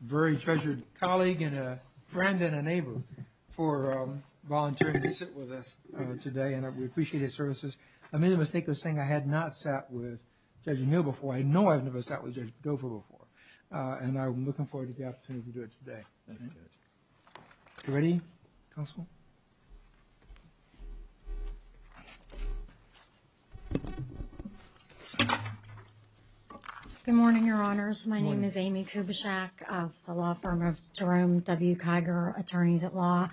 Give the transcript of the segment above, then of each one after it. Very treasured colleague and a friend and a neighbor for volunteering to sit with us today, and we appreciate his services I made a mistake of saying I had not sat with Judge O'Neill before, I know I've never sat with Judge Dover before And I'm looking forward to the opportunity to do it today Ready? Good morning, Your Honors, my name is Amy Kubishek of the law firm of Jerome W. Kiger, Attorneys at Law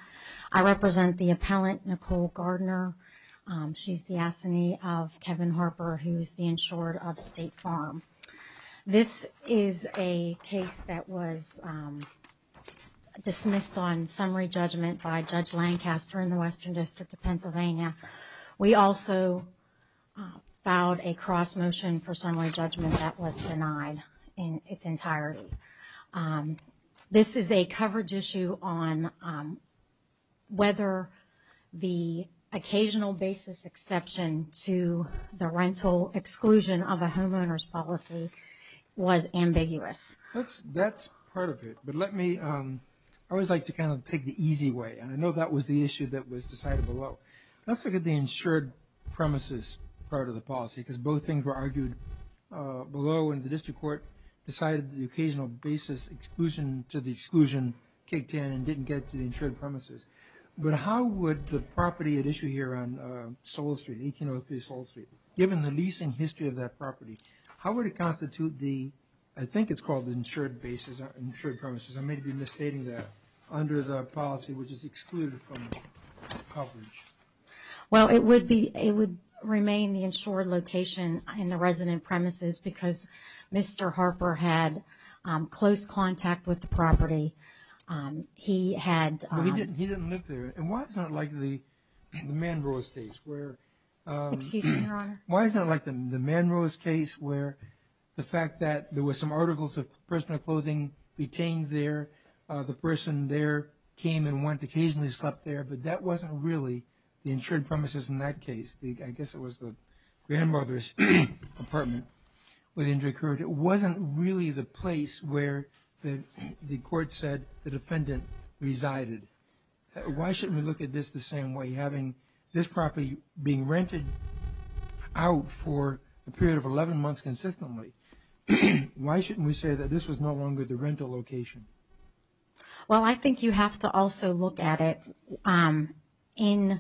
I represent the appellant, Nicole Gardner, she's the assignee of Kevin Harper, who's the insured of State Farm This is a case that was dismissed on summary judgment by Judge Lancaster in the Western District of Pennsylvania We also filed a cross motion for summary judgment that was denied in its entirety This is a coverage issue on whether the occasional basis exception to the rental exclusion of a homeowner's policy was ambiguous That's part of it, but let me, I always like to kind of take the easy way, and I know that was the issue that was decided below Let's look at the insured premises part of the policy, because both things were argued below And the district court decided that the occasional basis exclusion to the exclusion kicked in and didn't get to the insured premises But how would the property at issue here on 1803 Soul Street, given the leasing history of that property How would it constitute the, I think it's called the insured premises, I may be misstating that Under the policy which is excluded from the coverage Well it would be, it would remain the insured location in the resident premises because Mr. Harper had close contact with the property He had But he didn't live there, and why is it not like the Manrose case where Excuse me your honor Why is it not like the Manrose case where the fact that there were some articles of personal clothing retained there The person there came and went, occasionally slept there, but that wasn't really the insured premises in that case I guess it was the grandmother's apartment within the district court It wasn't really the place where the court said the defendant resided Why shouldn't we look at this the same way, having this property being rented out for a period of 11 months consistently Why shouldn't we say that this was no longer the rental location Well I think you have to also look at it in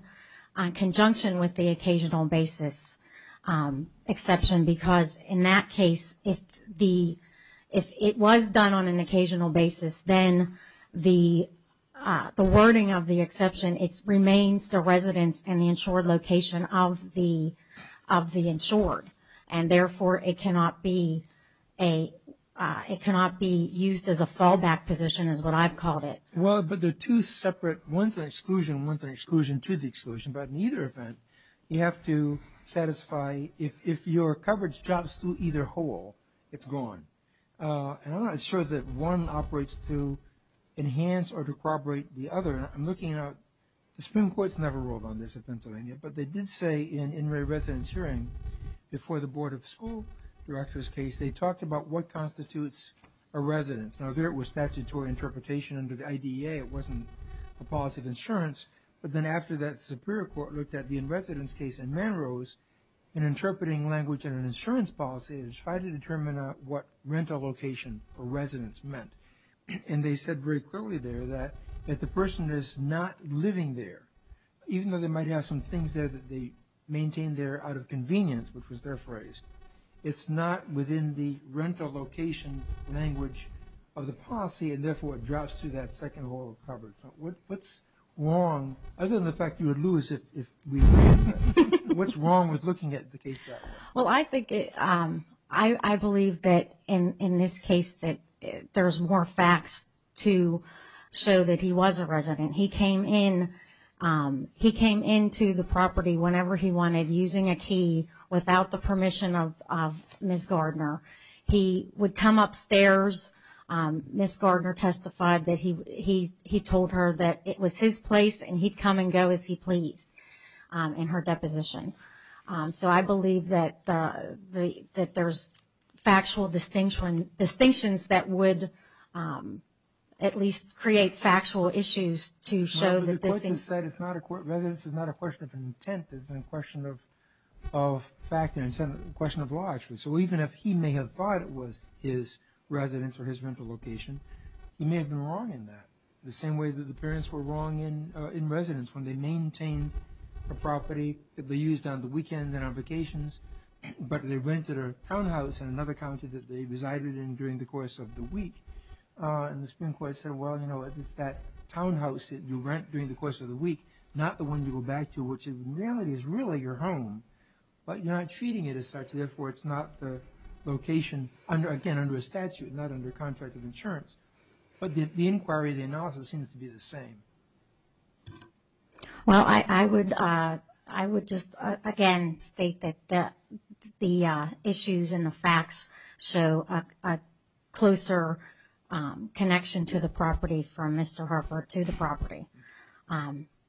conjunction with the occasional basis exception Because in that case, if it was done on an occasional basis, then the wording of the exception It remains the residence and the insured location of the insured And therefore it cannot be used as a fallback position is what I've called it Well but there are two separate, one's an exclusion and one's an exclusion to the exclusion But in either event, you have to satisfy, if your coverage drops through either hole, it's gone And I'm not sure that one operates to enhance or decorbrate the other And I'm looking at, the Supreme Court's never ruled on this in Pennsylvania But they did say in a residence hearing before the Board of School Directors case They talked about what constitutes a residence Now there it was statutory interpretation under the IDEA, it wasn't a policy of insurance But then after that, the Superior Court looked at the in-residence case in Manrose In interpreting language in an insurance policy And tried to determine what rental location for residence meant And they said very clearly there that the person is not living there Even though they might have some things there that they maintain there out of convenience Which was their phrase It's not within the rental location language of the policy And therefore it drops through that second hole of coverage What's wrong, other than the fact that you would lose if we did that What's wrong with looking at the case like that? Well I think, I believe that in this case that there's more facts to show that he was a resident He came in, he came into the property whenever he wanted Using a key, without the permission of Ms. Gardner He would come upstairs, Ms. Gardner testified that he told her that it was his place And he'd come and go as he pleased in her deposition So I believe that there's factual distinctions that would at least create factual issues Residence is not a question of intent, it's a question of fact and a question of logic So even if he may have thought it was his residence or his rental location He may have been wrong in that The same way that the parents were wrong in residence When they maintained a property that they used on the weekends and on vacations But they rented a townhouse in another county that they resided in during the course of the week And the Supreme Court said, well you know, it's that townhouse that you rent during the course of the week Not the one you go back to, which in reality is really your home But you're not treating it as such, therefore it's not the location Again, under a statute, not under contract of insurance But the inquiry, the analysis seems to be the same Well I would just again state that the issues and the facts show a closer connection to the property From Mr. Harper to the property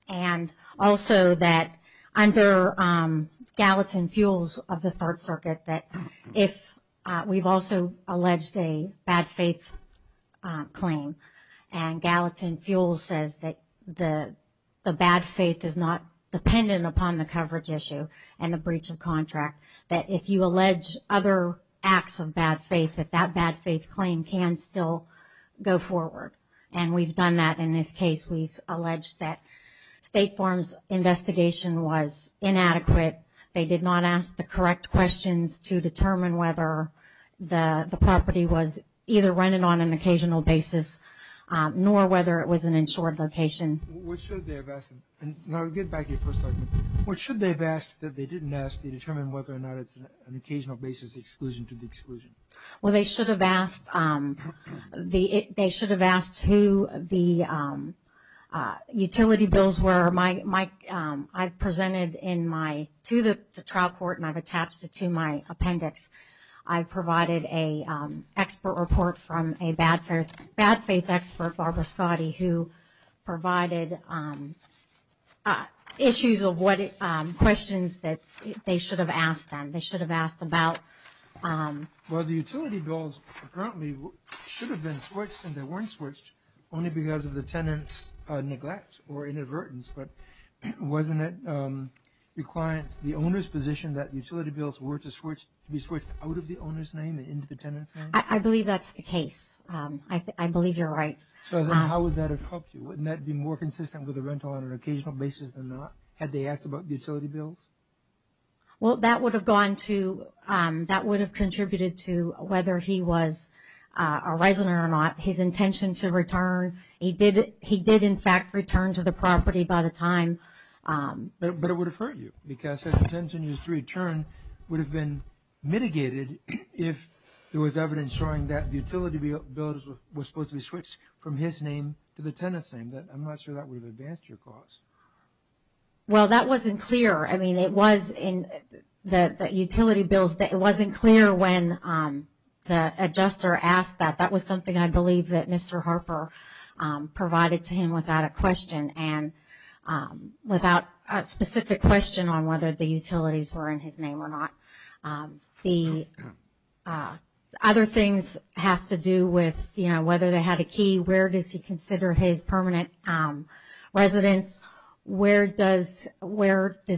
And also that under Gallatin Fuels of the 3rd Circuit That if we've also alleged a bad faith claim And Gallatin Fuels says that the bad faith is not dependent upon the coverage issue And the breach of contract That if you allege other acts of bad faith, that that bad faith claim can still go forward And we've done that in this case We've alleged that State Farm's investigation was inadequate They did not ask the correct questions to determine whether the property was Either rented on an occasional basis, nor whether it was an insured location What should they have asked? And I'll get back to your first argument What should they have asked that they didn't ask to determine whether or not it's an occasional basis exclusion to the exclusion? Well they should have asked They should have asked who the utility bills were I've presented to the trial court and I've attached it to my appendix I've provided an expert report from a bad faith expert, Barbara Scotty Who provided issues of questions that they should have asked them They should have asked about Well the utility bills apparently should have been switched and they weren't switched Only because of the tenant's neglect or inadvertence But wasn't it the owner's position that utility bills were to be switched out of the owner's name and into the tenant's name? I believe that's the case I believe you're right So then how would that have helped you? Wouldn't that be more consistent with a rental on an occasional basis than not? Had they asked about the utility bills? Well that would have contributed to whether he was a resident or not His intention to return He did in fact return to the property by the time But it would have hurt you Because his intention to return would have been mitigated If there was evidence showing that the utility bills were supposed to be switched from his name to the tenant's name I'm not sure that would have advanced your cause Well that wasn't clear I mean it was in the utility bills It wasn't clear when the adjuster asked that That was something I believe that Mr. Harper provided to him without a question And without a specific question on whether the utilities were in his name or not The other things have to do with whether they had a key Where does he consider his permanent residence? Where does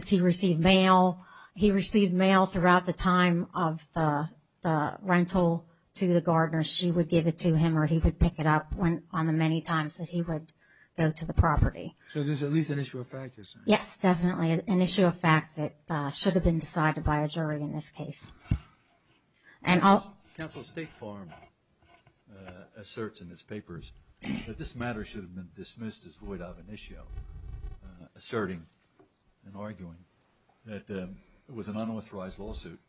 he receive mail? He received mail throughout the time of the rental to the gardener She would give it to him or he would pick it up on the many times that he would go to the property So there's at least an issue of fact you're saying? Yes definitely an issue of fact that should have been decided by a jury in this case Council State Farm asserts in its papers that this matter should have been dismissed as void of an issue Asserting and arguing that it was an unauthorized lawsuit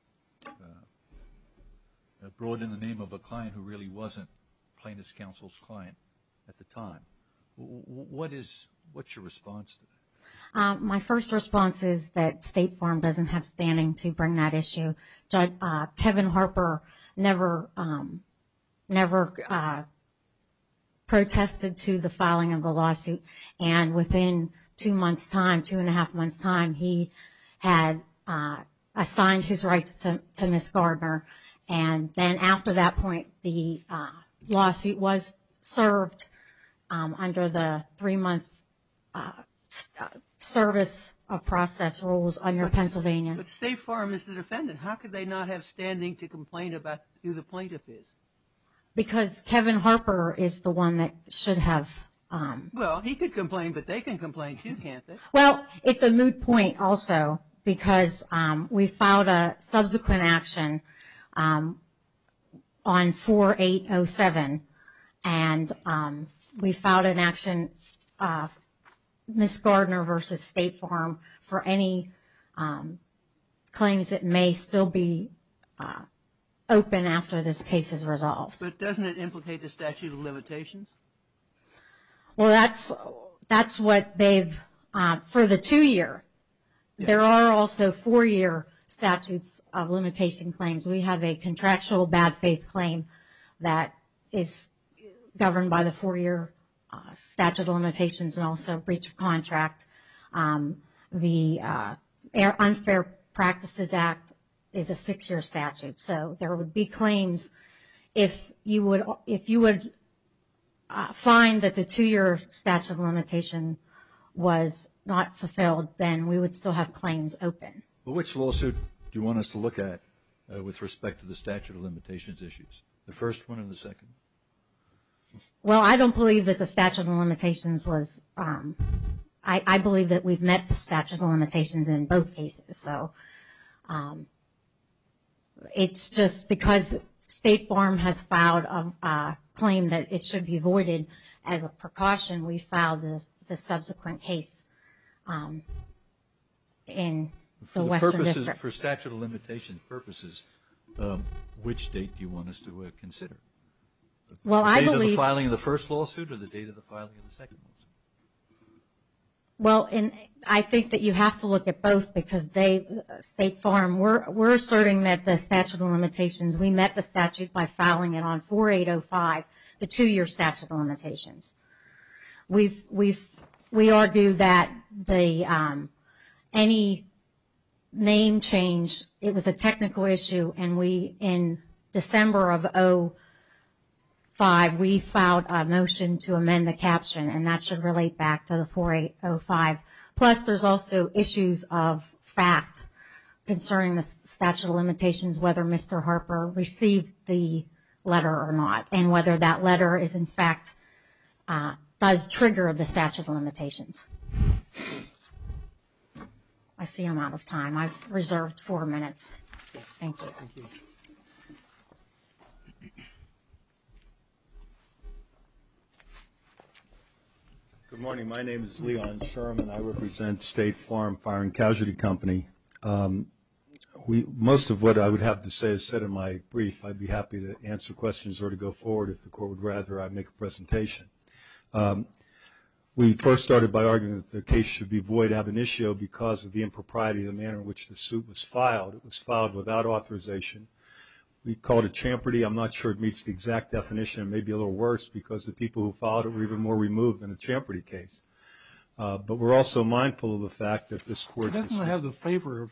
Brought in the name of a client who really wasn't plaintiff's counsel's client at the time What's your response to that? My first response is that State Farm doesn't have standing to bring that issue Kevin Harper never protested to the filing of the lawsuit And within two and a half months time he had assigned his rights to Ms. Gardner And then after that point the lawsuit was served under the three month service of process rules under Pennsylvania But State Farm is the defendant how could they not have standing to complain about who the plaintiff is? Because Kevin Harper is the one that should have Well he could complain but they can complain too can't they? Well it's a moot point also because we filed a subsequent action on 4807 And we filed an action Ms. Gardner versus State Farm for any claims that may still be open after this case is resolved But doesn't it implicate the statute of limitations? Well that's what they've for the two year there are also four year statutes of limitation claims We have a contractual bad faith claim that is governed by the four year statute of limitations and also breach of contract The unfair practices act is a six year statute So there would be claims if you would find that the two year statute of limitation was not fulfilled then we would still have claims open Which lawsuit do you want us to look at with respect to the statute of limitations issues? The first one or the second? Well I don't believe that the statute of limitations was I believe that we've met the statute of limitations in both cases So it's just because State Farm has filed a claim that it should be voided as a precaution we filed the subsequent case in the Western District For statute of limitations purposes which date do you want us to consider? Well I believe The date of the filing of the first lawsuit or the date of the filing of the second lawsuit? Well I think that you have to look at both because State Farm we're asserting that the statute of limitations we met the statute by filing it on 4805 The two year statute of limitations We argue that any name change it was a technical issue and we in December of 05 we filed a motion to amend the caption And that should relate back to the 4805 plus there's also issues of fact concerning the statute of limitations whether Mr. Harper received the letter or not And whether that letter is in fact does trigger the statute of limitations I see I'm out of time I've reserved four minutes Thank you Good morning my name is Leon Sherman I represent State Farm Fire and Casualty Company Most of what I would have to say is said in my brief I'd be happy to answer questions or to go forward if the court would rather I make a presentation We first started by arguing that the case should be void ab initio because of the impropriety of the manner in which the suit was filed It was filed without authorization We call it a champerty I'm not sure it meets the exact definition it may be a little worse because the people who filed it were even more removed than a champerty case But we're also mindful of the fact that this court It doesn't have the flavor of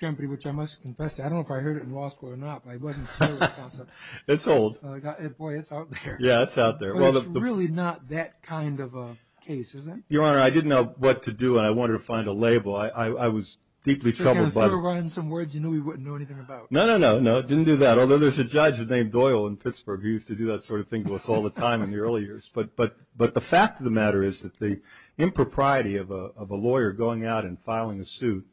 champerty which I must confess to I don't know if I heard it in law school or not but I wasn't aware of the concept It's old Boy it's out there Yeah it's out there But it's really not that kind of a case is it? Your honor I didn't know what to do and I wanted to find a label I was deeply troubled Yeah if you were writing some words you knew we wouldn't know anything about No no no it didn't do that although there's a judge named Doyle in Pittsburgh who used to do that sort of thing to us all the time in the early years But the fact of the matter is that the impropriety of a lawyer going out and filing a suit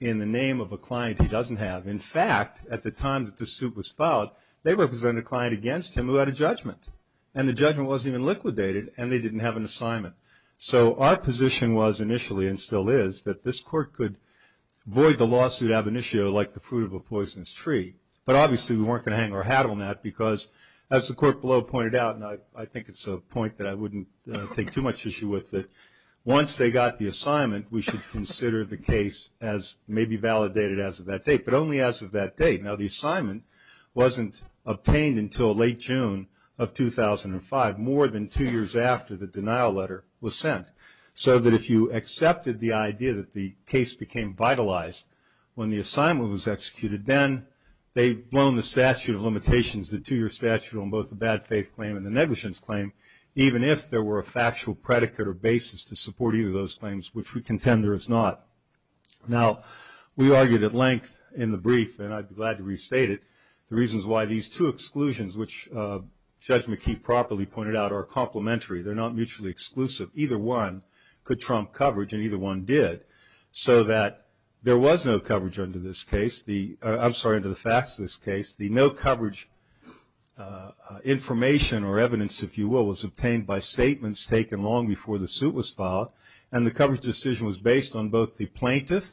in the name of a client he doesn't have In fact at the time that the suit was filed they represented a client against him who had a judgment And the judgment wasn't even liquidated and they didn't have an assignment So our position was initially and still is that this court could void the lawsuit ab initio like the fruit of a poisonous tree But obviously we weren't going to hang our hat on that because as the court below pointed out and I think it's a point that I wouldn't take too much issue with That once they got the assignment we should consider the case as maybe validated as of that date but only as of that date Now the assignment wasn't obtained until late June of 2005 more than two years after the denial letter was sent So that if you accepted the idea that the case became vitalized when the assignment was executed Then they've blown the statute of limitations the two year statute on both the bad faith claim and the negligence claim Even if there were a factual predicate or basis to support either of those claims which we contend there is not Now we argued at length in the brief and I'd be glad to restate it The reasons why these two exclusions which Judge McKee properly pointed out are complementary They're not mutually exclusive either one could trump coverage and either one did So that there was no coverage under this case I'm sorry under the facts of this case The no coverage information or evidence if you will was obtained by statements taken long before the suit was filed And the coverage decision was based on both the plaintiff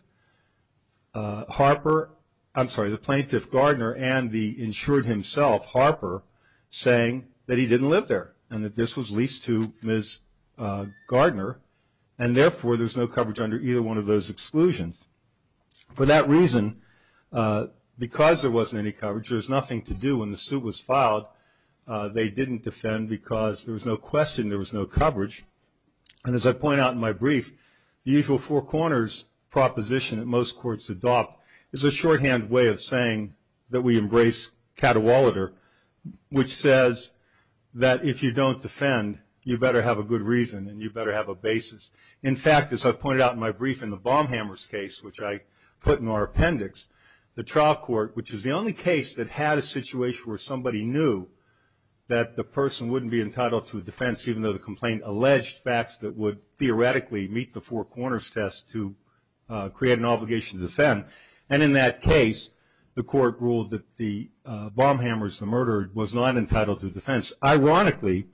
Harper I'm sorry the plaintiff Gardner and the insured himself Harper Saying that he didn't live there and that this was leased to Ms. Gardner And therefore there's no coverage under either one of those exclusions For that reason because there wasn't any coverage there's nothing to do when the suit was filed They didn't defend because there was no question there was no coverage And as I point out in my brief the usual four corners proposition that most courts adopt Is a shorthand way of saying that we embrace catawoliter Which says that if you don't defend you better have a good reason and you better have a basis In fact as I pointed out in my brief in the bomb hammers case which I put in our appendix The trial court which is the only case that had a situation where somebody knew That the person wouldn't be entitled to a defense even though the complaint alleged facts That would theoretically meet the four corners test to create an obligation to defend And in that case the court ruled that the bomb hammers the murderer was not entitled to defense Ironically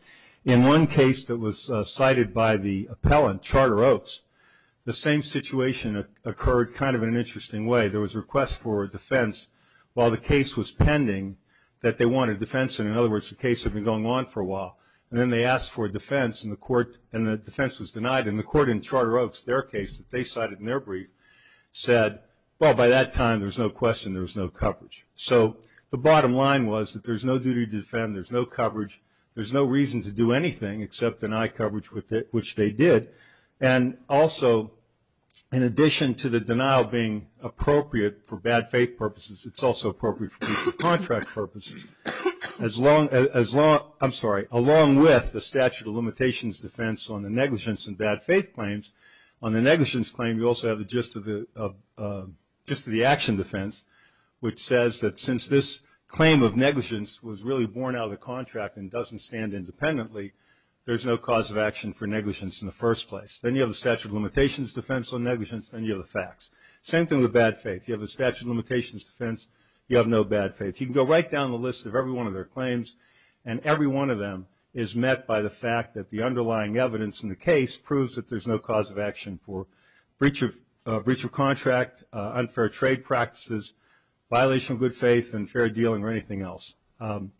in one case that was cited by the appellant Charter Oaks The same situation occurred kind of an interesting way there was a request for a defense While the case was pending that they wanted a defense And in other words the case had been going on for a while And then they asked for a defense and the defense was denied And the court in Charter Oaks their case that they cited in their brief Said well by that time there was no question there was no coverage So the bottom line was that there's no duty to defend there's no coverage There's no reason to do anything except deny coverage which they did And also in addition to the denial being appropriate for bad faith purposes It's also appropriate for contract purposes as long as long I'm sorry Along with the statute of limitations defense on the negligence and bad faith claims On the negligence claim you also have the gist of the action defense Which says that since this claim of negligence was really born out of the contract And doesn't stand independently There's no cause of action for negligence in the first place Then you have the statute of limitations defense on negligence Then you have the facts same thing with bad faith You have a statute of limitations defense you have no bad faith You can go right down the list of every one of their claims And every one of them is met by the fact that the underlying evidence in the case Proves that there's no cause of action for breach of contract Unfair trade practices violation of good faith and fair dealing or anything else I'm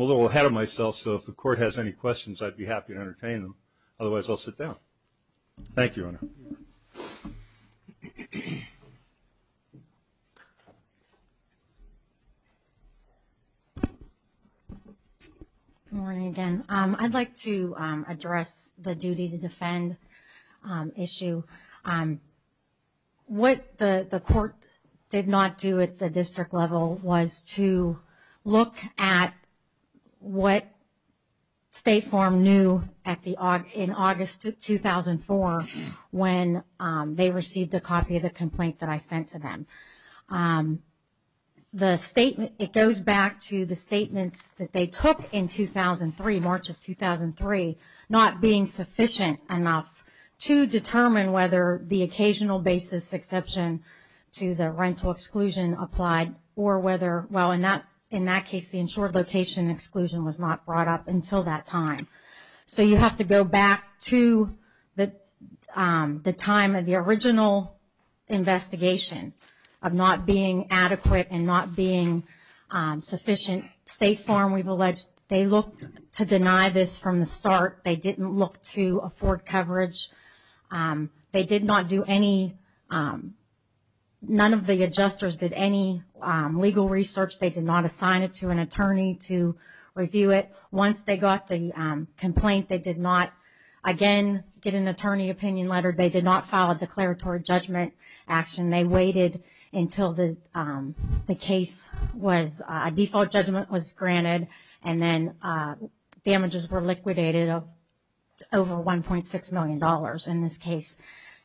a little ahead of myself so if the court has any questions I'd be happy to entertain them Otherwise I'll sit down Thank you Good morning again I'd like to address the duty to defend issue What the court did not do at the district level Was to look at what State Farm knew in August 2004 When they received a copy of the complaint that I sent to them The statement it goes back to the statements that they took in 2003 March of 2003 Not being sufficient enough to determine whether the occasional basis exception To the rental exclusion applied or whether well in that in that case The insured location exclusion was not brought up until that time So you have to go back to the time of the original investigation Of not being adequate and not being sufficient State Farm we've alleged they looked to deny this from the start They didn't look to afford coverage They did not do any None of the adjusters did any legal research They did not assign it to an attorney to review it Once they got the complaint they did not again get an attorney opinion letter They did not file a declaratory judgment action They waited until the case was a default judgment was granted And then damages were liquidated of over 1.6 million dollars in this case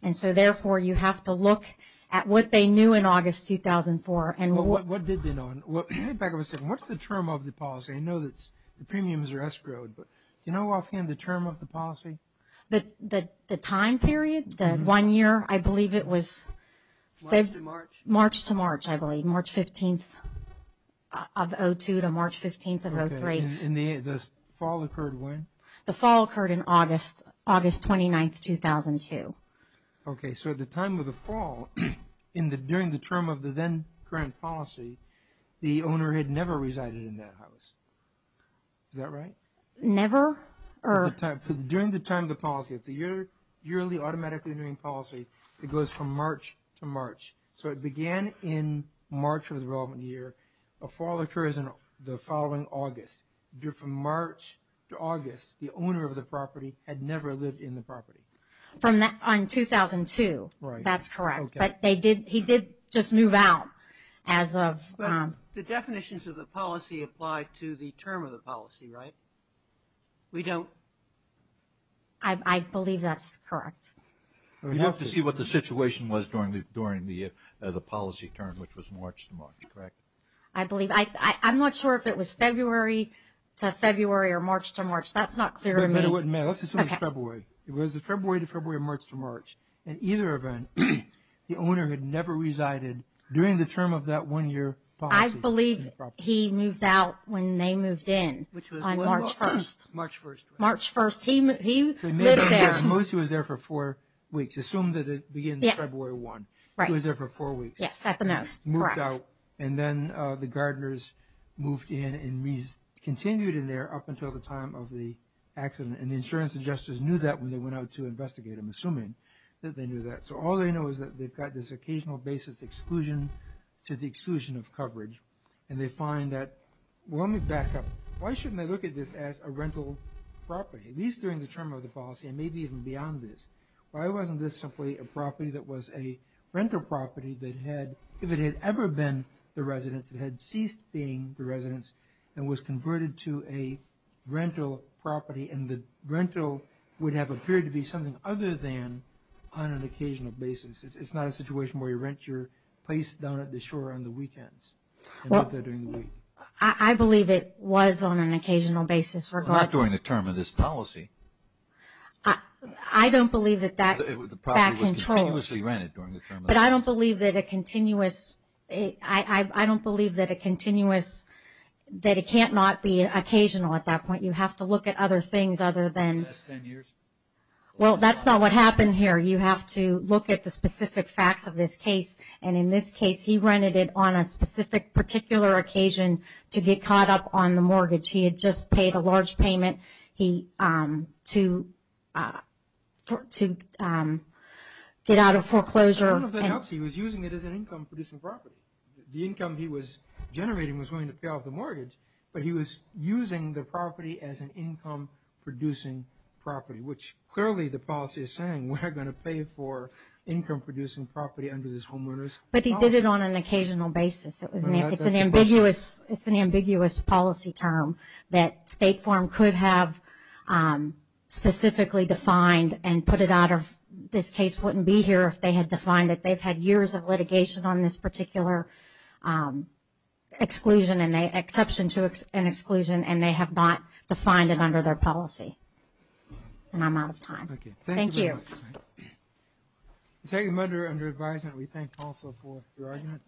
And so therefore you have to look at what they knew in August 2004 And what did they know What's the term of the policy I know that the premiums are escrowed Do you know offhand the term of the policy The time period the one year I believe it was March to March I believe March 15th of 2002 to March 15th of 2003 And the fall occurred when The fall occurred in August August 29th 2002 Okay so at the time of the fall During the term of the then current policy The owner had never resided in that house Is that right Never During the time of the policy It's a yearly automatically renewing policy It goes from March to March So it began in March of the relevant year The fall occurs in the following August From March to August The owner of the property had never lived in the property From that on 2002 Right That's correct But he did just move out as of The definitions of the policy apply to the term of the policy right We don't I believe that's correct You have to see what the situation was during the policy term Which was March to March correct I believe I'm not sure if it was February to February or March to March That's not clear to me Let's assume it was February It was February to February or March to March In either event the owner had never resided During the term of that one year policy I believe he moved out when they moved in On March 1st March 1st March 1st He lived there Mostly he was there for 4 weeks Assume that it begins February 1 Right He was there for 4 weeks Yes at the most Correct And then the gardeners moved in And continued in there up until the time of the accident And the insurance adjusters knew that when they went out to investigate him Assuming that they knew that So all they know is that they've got this occasional basis exclusion To the exclusion of coverage And they find that Let me back up Why shouldn't they look at this as a rental property At least during the term of the policy And maybe even beyond this Why wasn't this simply a property that was a rental property That had If it had ever been the residence It had ceased being the residence And was converted to a rental property And the rental would have appeared to be something other than On an occasional basis It's not a situation where you rent your place down at the shore on the weekends And leave there during the week I believe it was on an occasional basis Not during the term of this policy I don't believe that that The property was continuously rented during the term of the policy But I don't believe that a continuous I don't believe that a continuous That it can't not be occasional at that point You have to look at other things other than In the last 10 years Well, that's not what happened here You have to look at the specific facts of this case And in this case He rented it on a specific particular occasion To get caught up on the mortgage He had just paid a large payment He To To Get out of foreclosure He was using it as an income producing property The income he was generating was going to pay off the mortgage But he was using the property as an income producing property Which clearly the policy is saying We're going to pay for income producing property under this homeowners But he did it on an occasional basis It's an ambiguous It's an ambiguous policy term That State Farm could have Specifically defined And put it out of This case wouldn't be here if they had defined it They've had years of litigation on this particular Exclusion Exception to an exclusion And they have not defined it under their policy And I'm out of time Okay Thank you Take them under under advisement We thank also for your argument